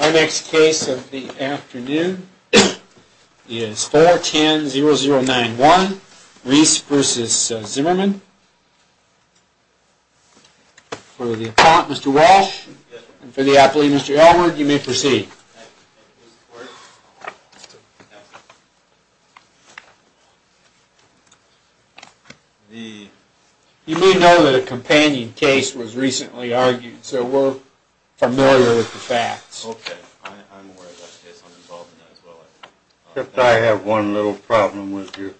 Our next case of the afternoon is 410-0091, Reis v. Zimmerman. For the appellant, Mr. Walsh, and for the appellee, Mr. Elwood, you may proceed. You may know that a companion case was recently argued, so we're familiar with the facts. Okay, I'm aware of that case. I'm involved in that as well. Except I have one little problem with you.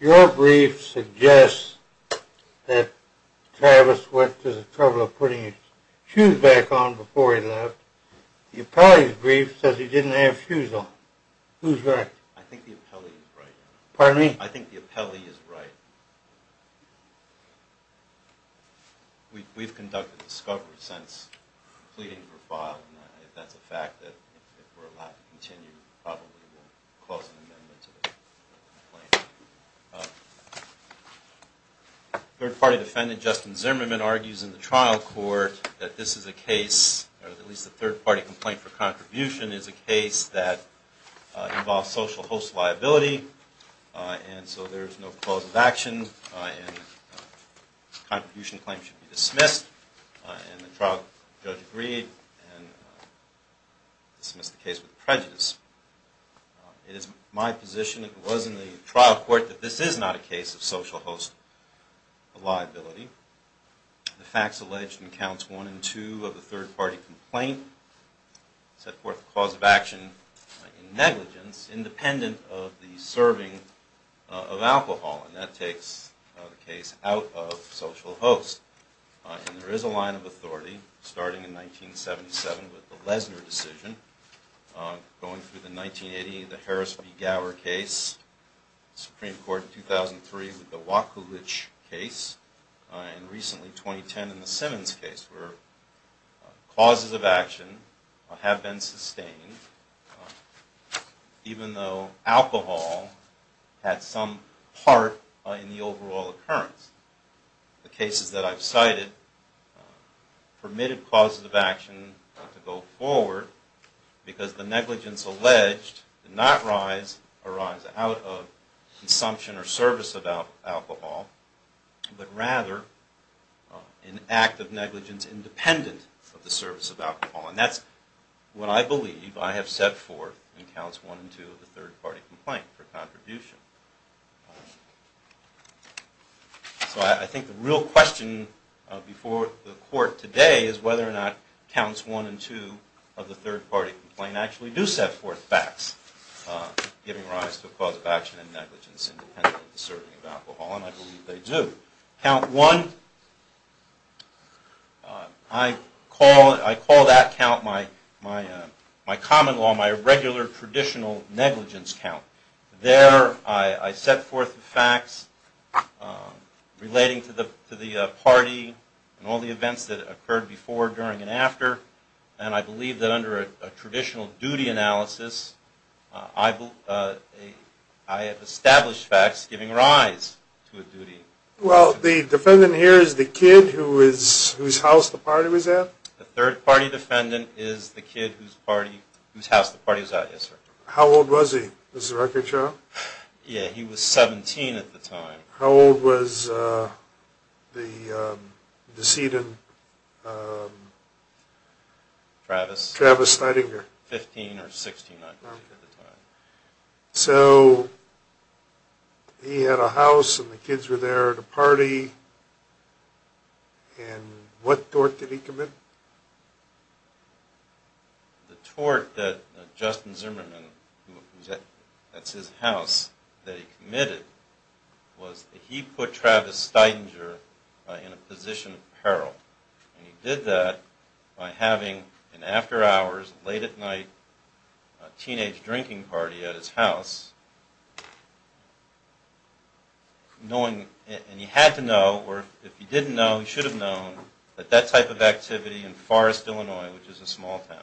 Your brief suggests that Travis went to the trouble of putting his shoes back on before he left. The appellee's brief says he didn't have shoes on. Who's right? I think the appellee is right. Pardon me? I think the appellee is right. We've conducted discovery since pleading for file. If that's a fact, then if we're allowed to continue, we'll probably close an amendment to the complaint. Third-party defendant Justin Zimmerman argues in the trial court that this is a case, or at least the third-party complaint for contribution is a case that involves social host liability, and so there is no cause of action, and contribution claims should be dismissed. And the trial judge agreed and dismissed the case with prejudice. It is my position that it was in the trial court that this is not a case of social host liability. The facts alleged in counts one and two of the third-party complaint set forth the cause of action in negligence, independent of the serving of alcohol, and that takes the case out of social host. And there is a line of authority, starting in 1977 with the Lesner decision, going through the 1980, the Harris v. Gower case, Supreme Court in 2003 with the Wakulich case, and recently 2010 in the Simmons case where causes of action have been sustained, even though alcohol had some part in the overall occurrence. The cases that I've cited permitted causes of action to go forward because the negligence alleged did not arise out of consumption or service of alcohol, but rather an act of negligence independent of the service of alcohol. And that's what I believe I have set forth in counts one and two of the third-party complaint for contribution. So I think the real question before the court today is whether or not counts one and two of the third-party complaint actually do set forth facts giving rise to a cause of action in negligence independent of the serving of alcohol, and I believe they do. Count one, I call that count my common law, my regular traditional negligence count. There I set forth the facts relating to the party and all the events that occurred before, during, and after, and I believe that under a traditional duty analysis, I have established facts giving rise to a duty. Well, the defendant here is the kid whose house the party was at? The third-party defendant is the kid whose house the party was at, yes, sir. How old was he? Does the record show? Yeah, he was 17 at the time. How old was the decedent? Travis. Travis Steidinger. 15 or 16 I believe at the time. So he had a house and the kids were there at a party, and what tort did he commit? The tort that Justin Zimmerman, that's his house, that he committed was that he put Travis Steidinger in a position of peril, and he did that by having an after-hours, late-at-night teenage drinking party at his house, and he had to know, or if he didn't know, he should have known, that that type of activity in Forrest, Illinois, which is a small town,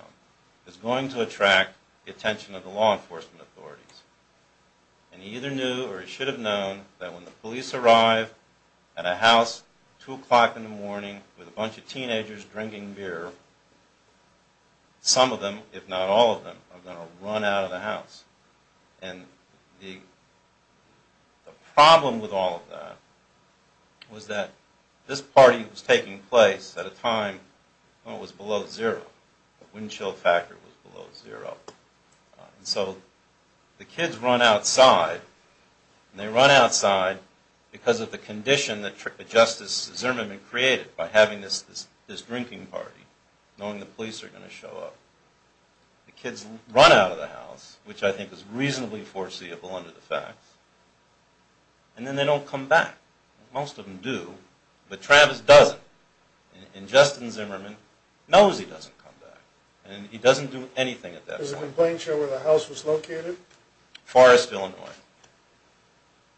is going to attract the attention of the law enforcement authorities. And he either knew or he should have known that when the police arrive at a house at 2 o'clock in the morning with a bunch of teenagers drinking beer, some of them, if not all of them, are going to run out of the house. And the problem with all of that was that this party was taking place at a time when it was below zero. The windchill factor was below zero. And so the kids run outside, and they run outside because of the condition that Justice Zimmerman created by having this drinking party, knowing the police are going to show up. The kids run out of the house, which I think is reasonably foreseeable under the facts, and then they don't come back. Most of them do, but Travis doesn't. And Justice Zimmerman knows he doesn't come back, and he doesn't do anything at that time. Is it in plain show where the house was located? Forrest, Illinois.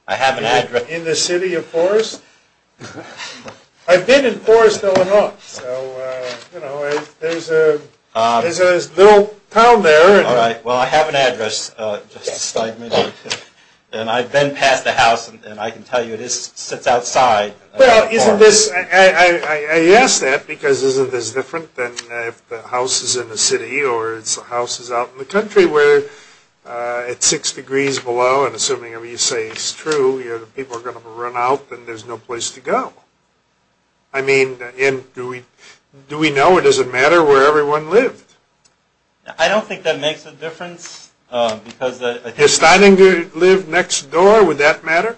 I have an address. In the city of Forrest? I've been in Forrest, Illinois. So, you know, there's a little town there. All right. Well, I have an address. And I've been past the house, and I can tell you it sits outside. Well, isn't this – I ask that because isn't this different than if the house is in the city or the house is out in the country where it's 6 degrees below, and assuming you say it's true, the people are going to run out, and there's no place to go. I mean, do we know or does it matter where everyone lived? I don't think that makes a difference because – Does Steininger live next door? Would that matter?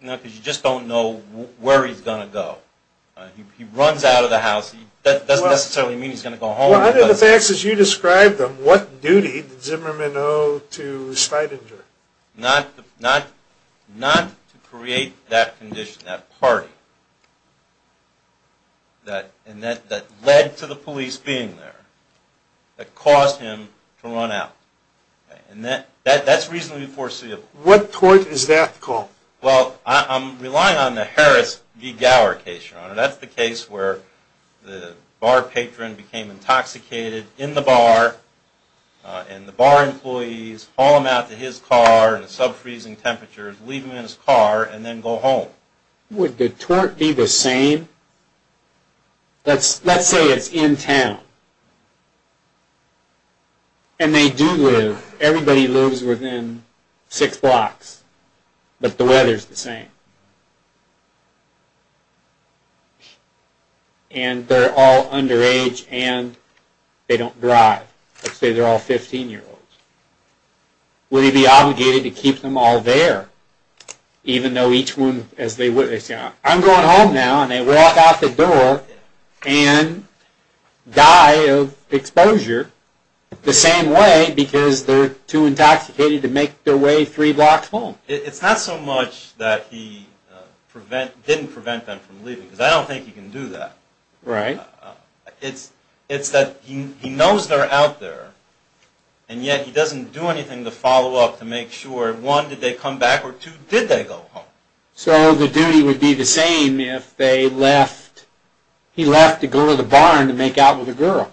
No, because you just don't know where he's going to go. He runs out of the house. That doesn't necessarily mean he's going to go home. Under the facts as you described them, what duty did Zimmerman owe to Steininger? Not to create that condition, that party that led to the police being there, that caused him to run out. And that's reasonably foreseeable. What court is that called? Well, I'm relying on the Harris v. Gower case, Your Honor. That's the case where the bar patron became intoxicated in the bar, and the bar employees haul him out to his car in sub-freezing temperatures, leave him in his car, and then go home. Would Detroit be the same? Let's say it's in town. And they do live. Everybody lives within six blocks, but the weather's the same. And they're all underage, and they don't drive. Let's say they're all 15-year-olds. Would he be obligated to keep them all there, even though each one – I'm going home now, and they walk out the door and die of exposure the same way because they're too intoxicated to make their way three blocks home? It's not so much that he didn't prevent them from leaving, because I don't think he can do that. Right. It's that he knows they're out there, and yet he doesn't do anything to follow up to make sure, one, did they come back, or two, did they go home? So the duty would be the same if he left to go to the barn to make out with a girl.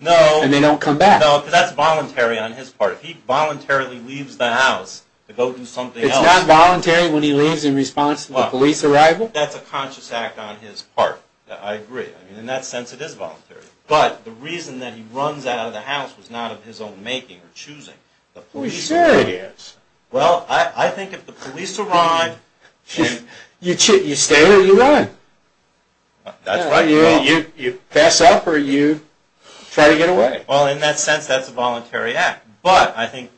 No. And they don't come back. No, because that's voluntary on his part. If he voluntarily leaves the house to go do something else – It's not voluntary when he leaves in response to the police arrival? That's a conscious act on his part. I agree. In that sense, it is voluntary. But the reason that he runs out of the house was not of his own making or choosing. Well, sure it is. Well, I think if the police arrive – You stay or you run. That's right. You pass up or you try to get away. Well, in that sense, that's a voluntary act. But I think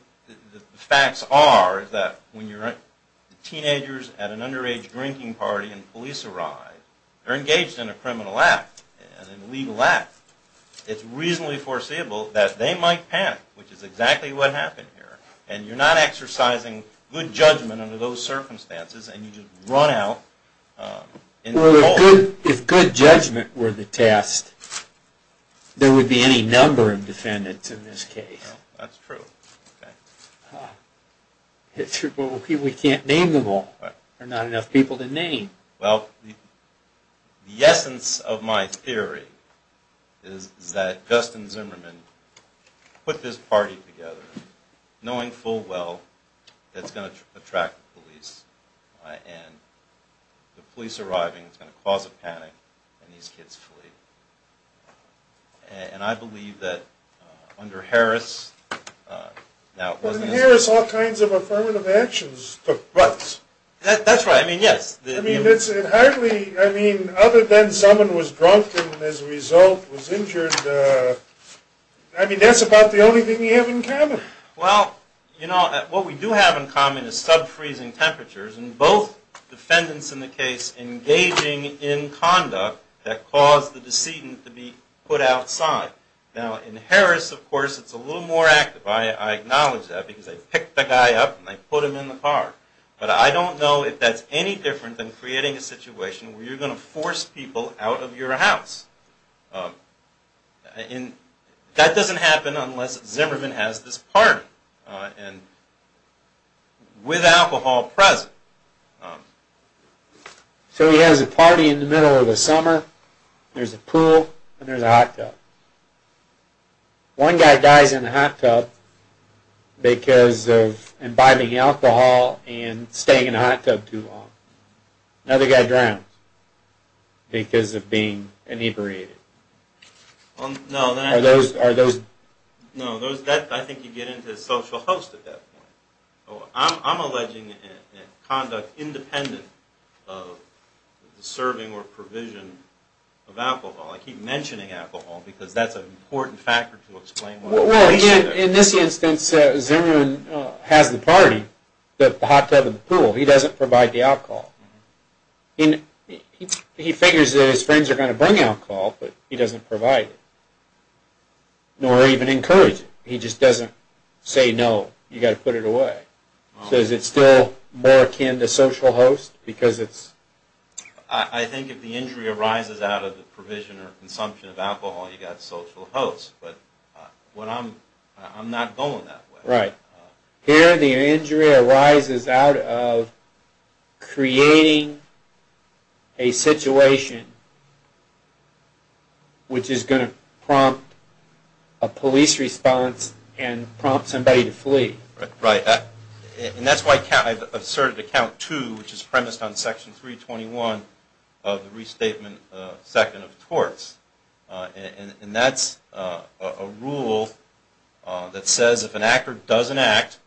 the facts are that when teenagers at an underage drinking party and police arrive, they're engaged in a criminal act, a legal act. It's reasonably foreseeable that they might panic, which is exactly what happened here. And you're not exercising good judgment under those circumstances and you just run out in the cold. Well, if good judgment were the test, there would be any number of defendants in this case. That's true. We can't name them all. There are not enough people to name. Well, the essence of my theory is that Justin Zimmerman put this party together, knowing full well that it's going to attract the police. And the police arriving is going to cause a panic and these kids flee. And I believe that under Harris – But in Harris, all kinds of affirmative actions took place. That's right. I mean, yes. I mean, other than someone was drunk and as a result was injured, I mean, that's about the only thing you have in common. Well, you know, what we do have in common is sub-freezing temperatures and both defendants in the case engaging in conduct that caused the decedent to be put outside. Now, in Harris, of course, it's a little more active. I acknowledge that because they picked the guy up and they put him in the car. But I don't know if that's any different than creating a situation where you're going to force people out of your house. And that doesn't happen unless Zimmerman has this party and with alcohol present. So he has a party in the middle of the summer. There's a pool and there's a hot tub. One guy dies in the hot tub because of imbibing alcohol and staying in the hot tub too long. Another guy drowns because of being inebriated. No, I think you get into the social host at that point. I'm alleging conduct independent of the serving or provision of alcohol. I keep mentioning alcohol because that's an important factor to explain. Well, again, in this instance, Zimmerman has the party, the hot tub and the pool. He doesn't provide the alcohol. He figures that his friends are going to bring alcohol, but he doesn't provide it. Nor even encourage it. He just doesn't say, no, you've got to put it away. So is it still more akin to social host? I think if the injury arises out of the provision or consumption of alcohol, you've got social host. But I'm not going that way. Right. Here the injury arises out of creating a situation which is going to prompt a police response and prompt somebody to flee. Right. And that's why I've asserted to count two, which is premised on section 321 of the restatement second of torts. And that's a rule that says if an actor doesn't act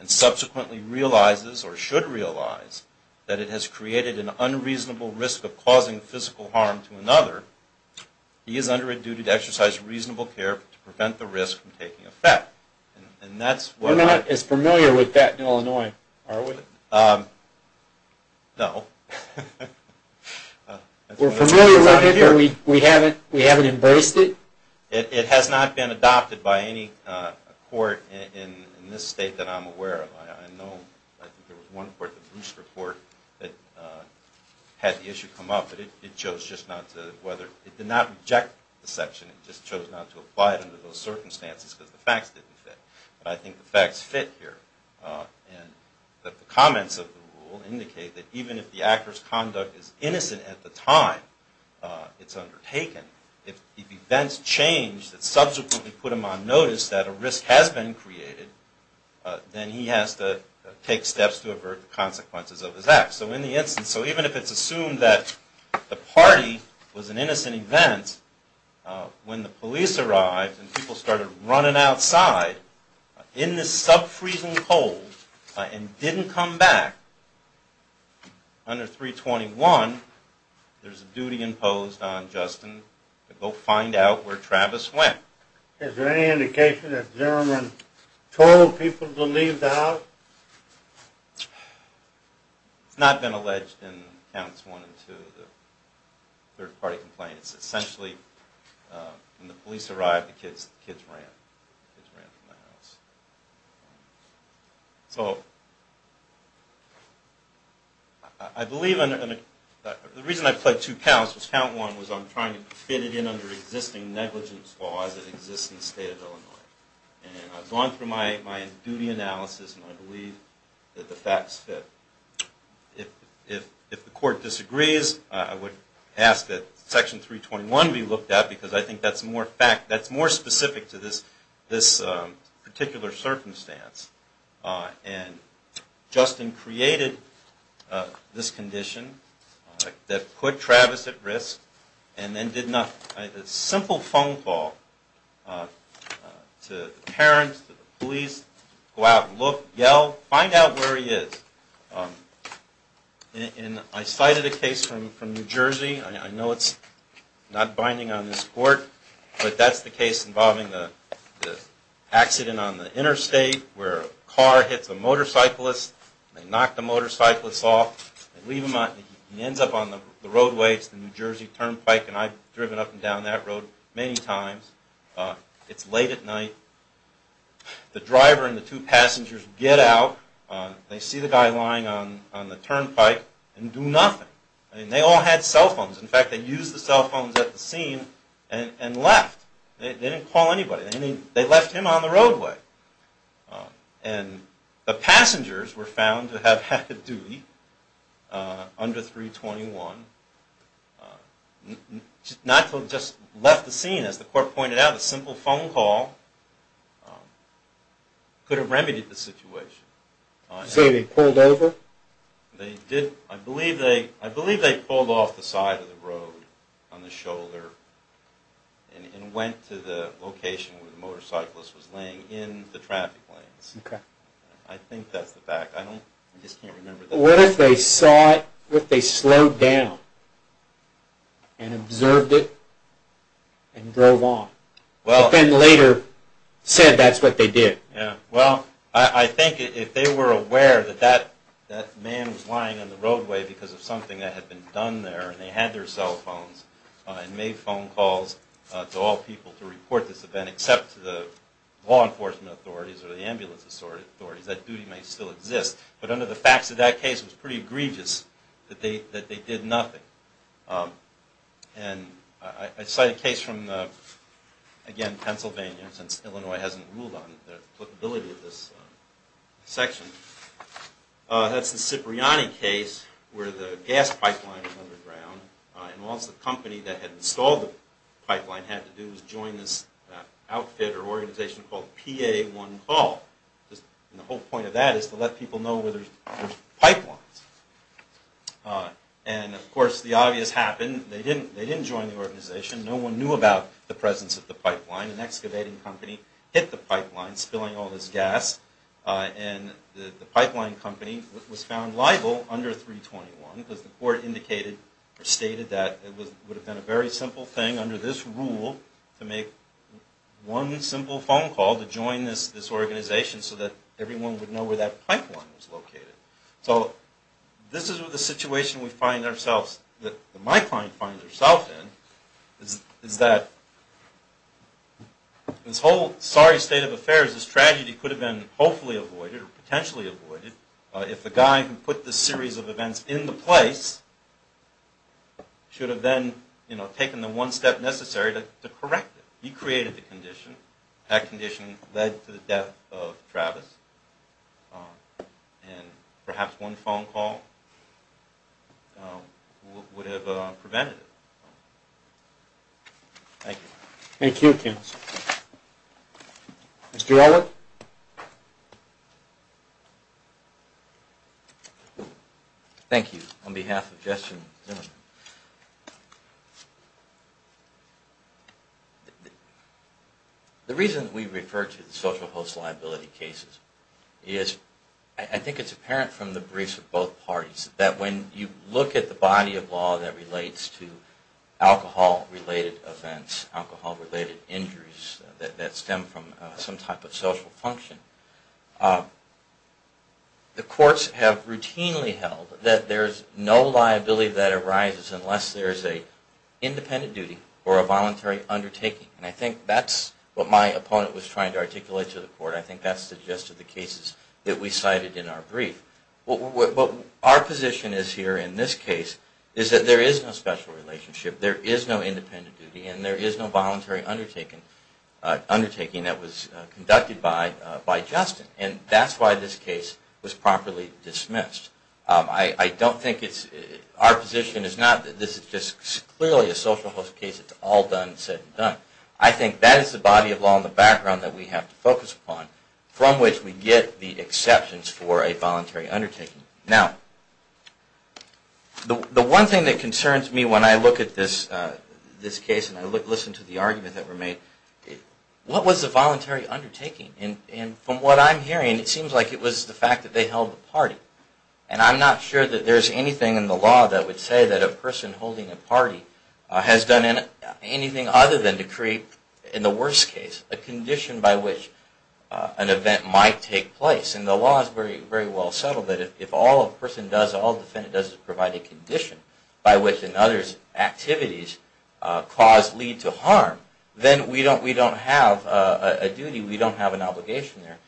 and subsequently realizes or should realize that it has created an unreasonable risk of causing physical harm to another, he is under a duty to exercise reasonable care to prevent the risk from taking effect. We're not as familiar with that in Illinois, are we? No. We're familiar with it, but we haven't embraced it? It has not been adopted by any court in this state that I'm aware of. I know there was one court, the Brewster Court, that had the issue come up. It did not reject the section. It just chose not to apply it under those circumstances because the facts didn't fit. But I think the facts fit here. The comments of the rule indicate that even if the actor's conduct is innocent at the time it's undertaken, if events change that subsequently put him on notice that a risk has been created, then he has to take steps to avert the consequences of his acts. So even if it's assumed that the party was an innocent event, when the police arrived and people started running outside in this sub-freezing cold and didn't come back under 321, there's a duty imposed on Justin to go find out where Travis went. Is there any indication that Zimmerman told people to leave the house? No. It's not been alleged in Counts 1 and 2, the third-party complaints. Essentially, when the police arrived, the kids ran from the house. The reason I played two counts was Count 1 was I'm trying to fit it in under existing negligence laws that exist in the state of Illinois. And I've gone through my duty analysis and I believe that the facts fit. If the court disagrees, I would ask that Section 321 be looked at, because I think that's more specific to this particular circumstance. And Justin created this condition that put Travis at risk, and then did a simple phone call to the parents, to the police, go out and look, yell, find out where he is. I cited a case from New Jersey. I know it's not binding on this court, but that's the case involving the accident on the interstate where a car hits a motorcyclist, they knock the motorcyclist off, he ends up on the roadway, it's the New Jersey Turnpike, and I've driven up and down that road many times. It's late at night. The driver and the two passengers get out. They see the guy lying on the turnpike and do nothing. They all had cell phones. In fact, they used the cell phones at the scene and left. They didn't call anybody. They left him on the roadway. And the passengers were found to have had the duty under 321. Not to have just left the scene, as the court pointed out, a simple phone call could have remedied the situation. So they pulled over? I believe they pulled off the side of the road on the shoulder and went to the location where the motorcyclist was laying in the traffic lanes. I think that's the fact. I just can't remember. What if they saw it, what if they slowed down and observed it and drove on? But then later said that's what they did. Well, I think if they were aware that that man was lying on the roadway because of something that had been done there, and they had their cell phones, and made phone calls to all people to report this event, except to the law enforcement authorities or the ambulance authorities, that duty may still exist. But under the facts of that case, it was pretty egregious that they did nothing. And I cite a case from, again, Pennsylvania, since Illinois hasn't ruled on the applicability of this section. That's the Cipriani case where the gas pipeline was underground. And what the company that had installed the pipeline had to do was join this outfit or organization called PA1Call. And the whole point of that is to let people know where there's pipelines. And, of course, the obvious happened. They didn't join the organization. No one knew about the presence of the pipeline. An excavating company hit the pipeline, spilling all this gas. And the pipeline company was found liable under 321 because the court indicated or stated that it would have been a very simple thing under this rule to make one simple phone call to join this organization so that everyone would know where that pipeline was located. So this is the situation we find ourselves, that my client finds herself in, is that this whole sorry state of affairs, this tragedy could have been hopefully avoided or potentially avoided if the guy who put this series of events in the place should have then taken the one step necessary to correct it. He created the condition. That condition led to the death of Travis. And perhaps one phone call would have prevented it. Thank you. Thank you, counsel. Mr. Ellert? Thank you. On behalf of Justin Zimmerman. The reason we refer to the social host liability cases is I think it's apparent from the briefs of both parties that when you look at the body of law that relates to alcohol-related events, alcohol-related injuries that stem from some type of social function, the courts have routinely held that there's no liability that arises unless there's an independent duty or a voluntary undertaking. And I think that's what my opponent was trying to articulate to the court. I think that's the gist of the cases that we cited in our brief. What our position is here in this case is that there is no special relationship, there is no independent duty, and there is no voluntary undertaking that was conducted by Justin. And that's why this case was properly dismissed. I don't think it's our position. It's not that this is just clearly a social host case. It's all done and said and done. I think that is the body of law in the background that we have to focus upon from which we get the exceptions for a voluntary undertaking. Now, the one thing that concerns me when I look at this case and I listen to the arguments that were made, what was the voluntary undertaking? And from what I'm hearing, it seems like it was the fact that they held a party. And I'm not sure that there's anything in the law that would say that a person holding a party has done anything other than to create, in the worst case, a condition by which an event might take place. And the law is very well settled that if all a person does, all a defendant does is provide a condition by which another's activities cause, lead to harm, then we don't have a duty, we don't have an obligation there.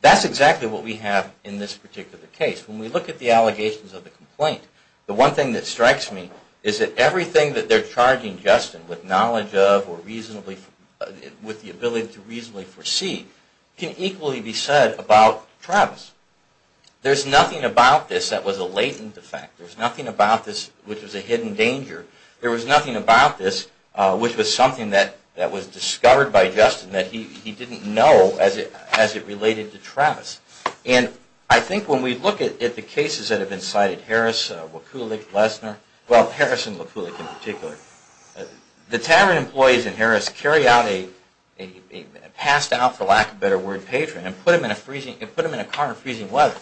That's exactly what we have in this particular case. When we look at the allegations of the complaint, the one thing that strikes me is that everything that they're charging Justin with knowledge of or with the ability to reasonably foresee can equally be said about Travis. There's nothing about this that was a latent defect. There's nothing about this which was a hidden danger. There was nothing about this which was something that was discovered by Justin that he didn't know as it related to Travis. And I think when we look at the cases that have been cited, Harris, Wakulik, Lesner, well, Harris and Wakulik in particular, the Tavern employees in Harris carry out a passed out, for lack of a better word, patron and put him in a car in freezing weather.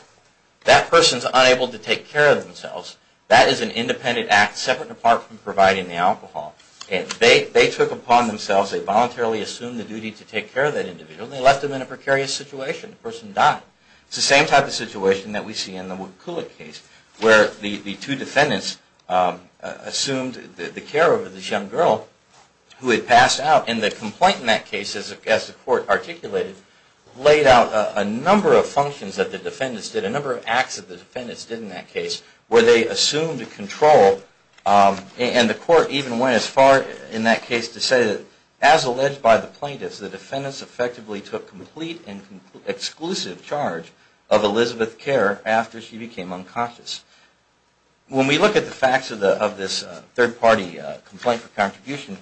That person's unable to take care of themselves. That is an independent act separate and apart from providing the alcohol. And they took upon themselves, they voluntarily assumed the duty to take care of that individual and they left him in a precarious situation. The person died. It's the same type of situation that we see in the Wakulik case where the two defendants assumed the care of this young girl who had passed out. And the complaint in that case, as the court articulated, laid out a number of functions that the defendants did, a number of acts that the defendants did in that case where they assumed control and the court even went as far in that case to say that as alleged by the plaintiffs, the defendants effectively took complete and exclusive charge of Elizabeth Kerr after she became unconscious. When we look at the facts of this third party complaint for contribution,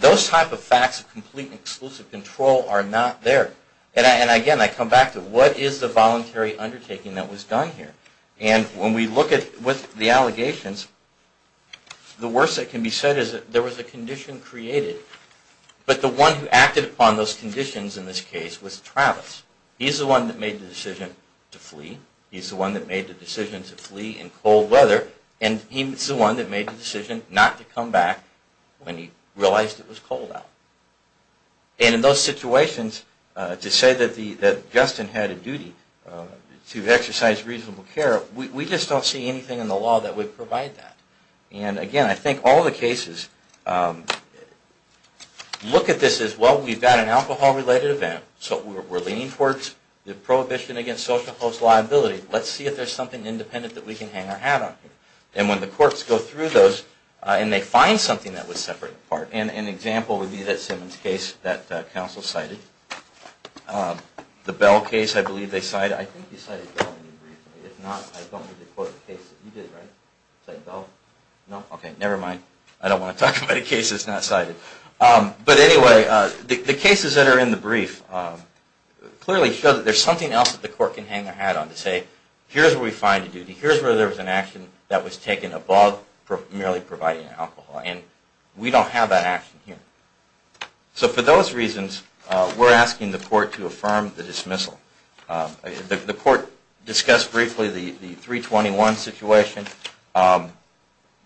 those type of facts of complete and exclusive control are not there. And again, I come back to what is the voluntary undertaking that was done here? And when we look at the allegations, the worst that can be said is that there was a condition created, but the one who acted upon those conditions in this case was Travis. He's the one that made the decision to flee. He's the one that made the decision to flee in cold weather. And he's the one that made the decision not to come back when he realized it was cold out. And in those situations, to say that Justin had a duty to exercise reasonable care, we just don't see anything in the law that would provide that. And again, I think all the cases look at this as, well, we've got an alcohol-related event. So we're leaning towards the prohibition against social host liability. Let's see if there's something independent that we can hang our hat on here. And when the courts go through those, and they find something that was separate and apart, and an example would be that Simmons case that counsel cited. The Bell case, I believe they cited. I think you cited Bell recently. If not, I don't need to quote the case that you did, right? Is that Bell? No? Okay, never mind. I don't want to talk about a case that's not cited. But anyway, the cases that are in the brief clearly show that there's something else that the court can hang their hat on to say, here's where we find a duty. Here's where there was an action that was taken above merely providing alcohol. And we don't have that action here. So for those reasons, we're asking the court to affirm the dismissal. The court discussed briefly the 321 situation.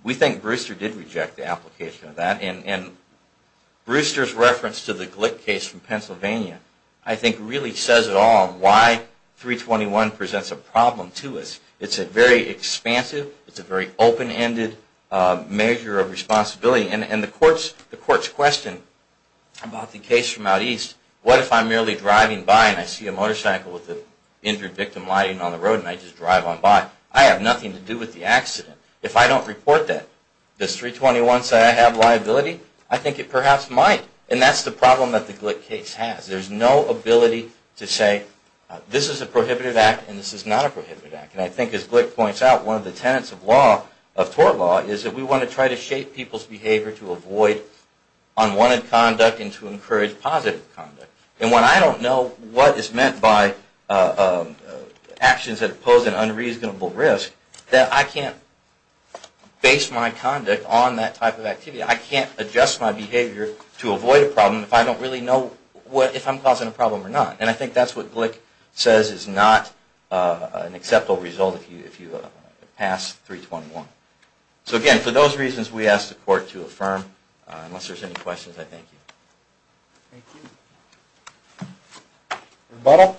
We think Brewster did reject the application of that. And Brewster's reference to the Glick case from Pennsylvania, I think, really says it all on why 321 presents a problem to us. It's a very expansive, it's a very open-ended measure of responsibility. And the court's question about the case from out east, what if I'm merely driving by and I see a motorcycle with an injured victim lying on the road and I just drive on by? I have nothing to do with the accident. If I don't report that, does 321 say I have liability? I think it perhaps might. And that's the problem that the Glick case has. There's no ability to say, this is a prohibited act and this is not a prohibited act. And I think, as Glick points out, one of the tenets of law, of tort law, is that we want to try to shape people's behavior to avoid unwanted conduct and to encourage positive conduct. And when I don't know what is meant by actions that pose an unreasonable risk, then I can't base my conduct on that type of activity. I can't adjust my behavior to avoid a problem if I don't really know if I'm causing a problem or not. And I think that's what Glick says is not an acceptable result if you pass 321. So again, for those reasons, we ask the court to affirm. Unless there's any questions, I thank you. Thank you. Rebuttal?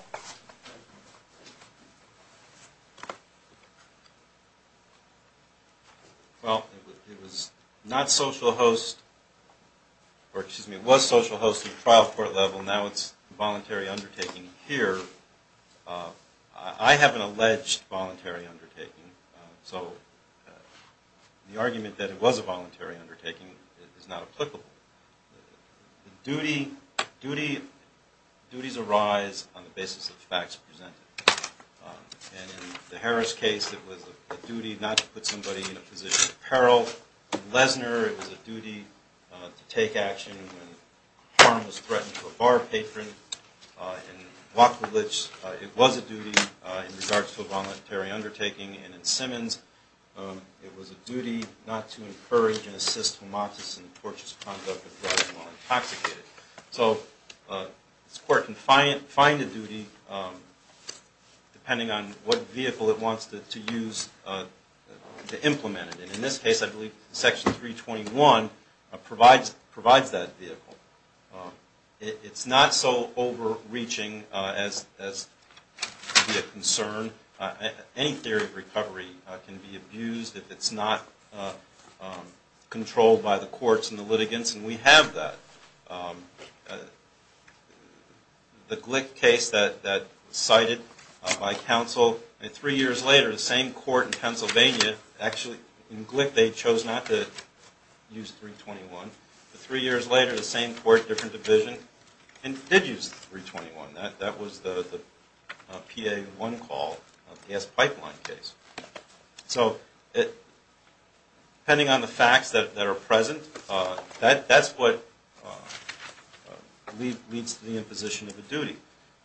Well, it was not social host, or excuse me, it was social host at the trial court level. Now it's a voluntary undertaking here. I have an alleged voluntary undertaking. So the argument that it was a voluntary undertaking is not applicable. Duties arise on the basis of facts presented. And in the Harris case, it was a duty not to put somebody in a position of peril. In Lesner, it was a duty to take action when harm was threatened to a bar patron. In Wachowicz, it was a duty in regards to a voluntary undertaking. And in Simmons, it was a duty not to encourage and assist whomatis in torturous conduct of drugs while intoxicated. So this court can find a duty depending on what vehicle it wants to use to implement it. And in this case, I believe Section 321 provides that vehicle. It's not so overreaching as to be a concern. Any theory of recovery can be abused if it's not controlled by the courts and the litigants, and we have that. The Glick case that was cited by counsel, and three years later, the same court in Pennsylvania, actually, in Glick, they chose not to use 321. But three years later, the same court, different division, did use 321. That was the PA-1 call, gas pipeline case. So depending on the facts that are present, that's what leads to the imposition of a duty.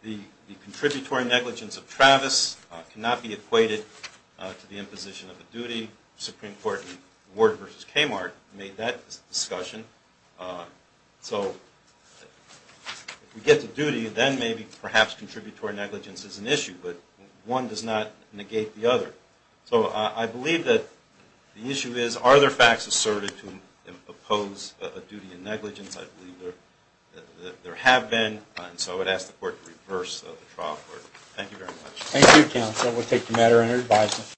The contributory negligence of Travis cannot be equated to the imposition of a duty. Supreme Court in Ward v. Kmart made that discussion. So if we get to duty, then maybe perhaps contributory negligence is an issue. But one does not negate the other. So I believe that the issue is, are there facts asserted to impose a duty in negligence? I believe there have been, and so I would ask the court to reverse the trial for it. Thank you very much. Thank you, counsel. We'll take the matter under advisement.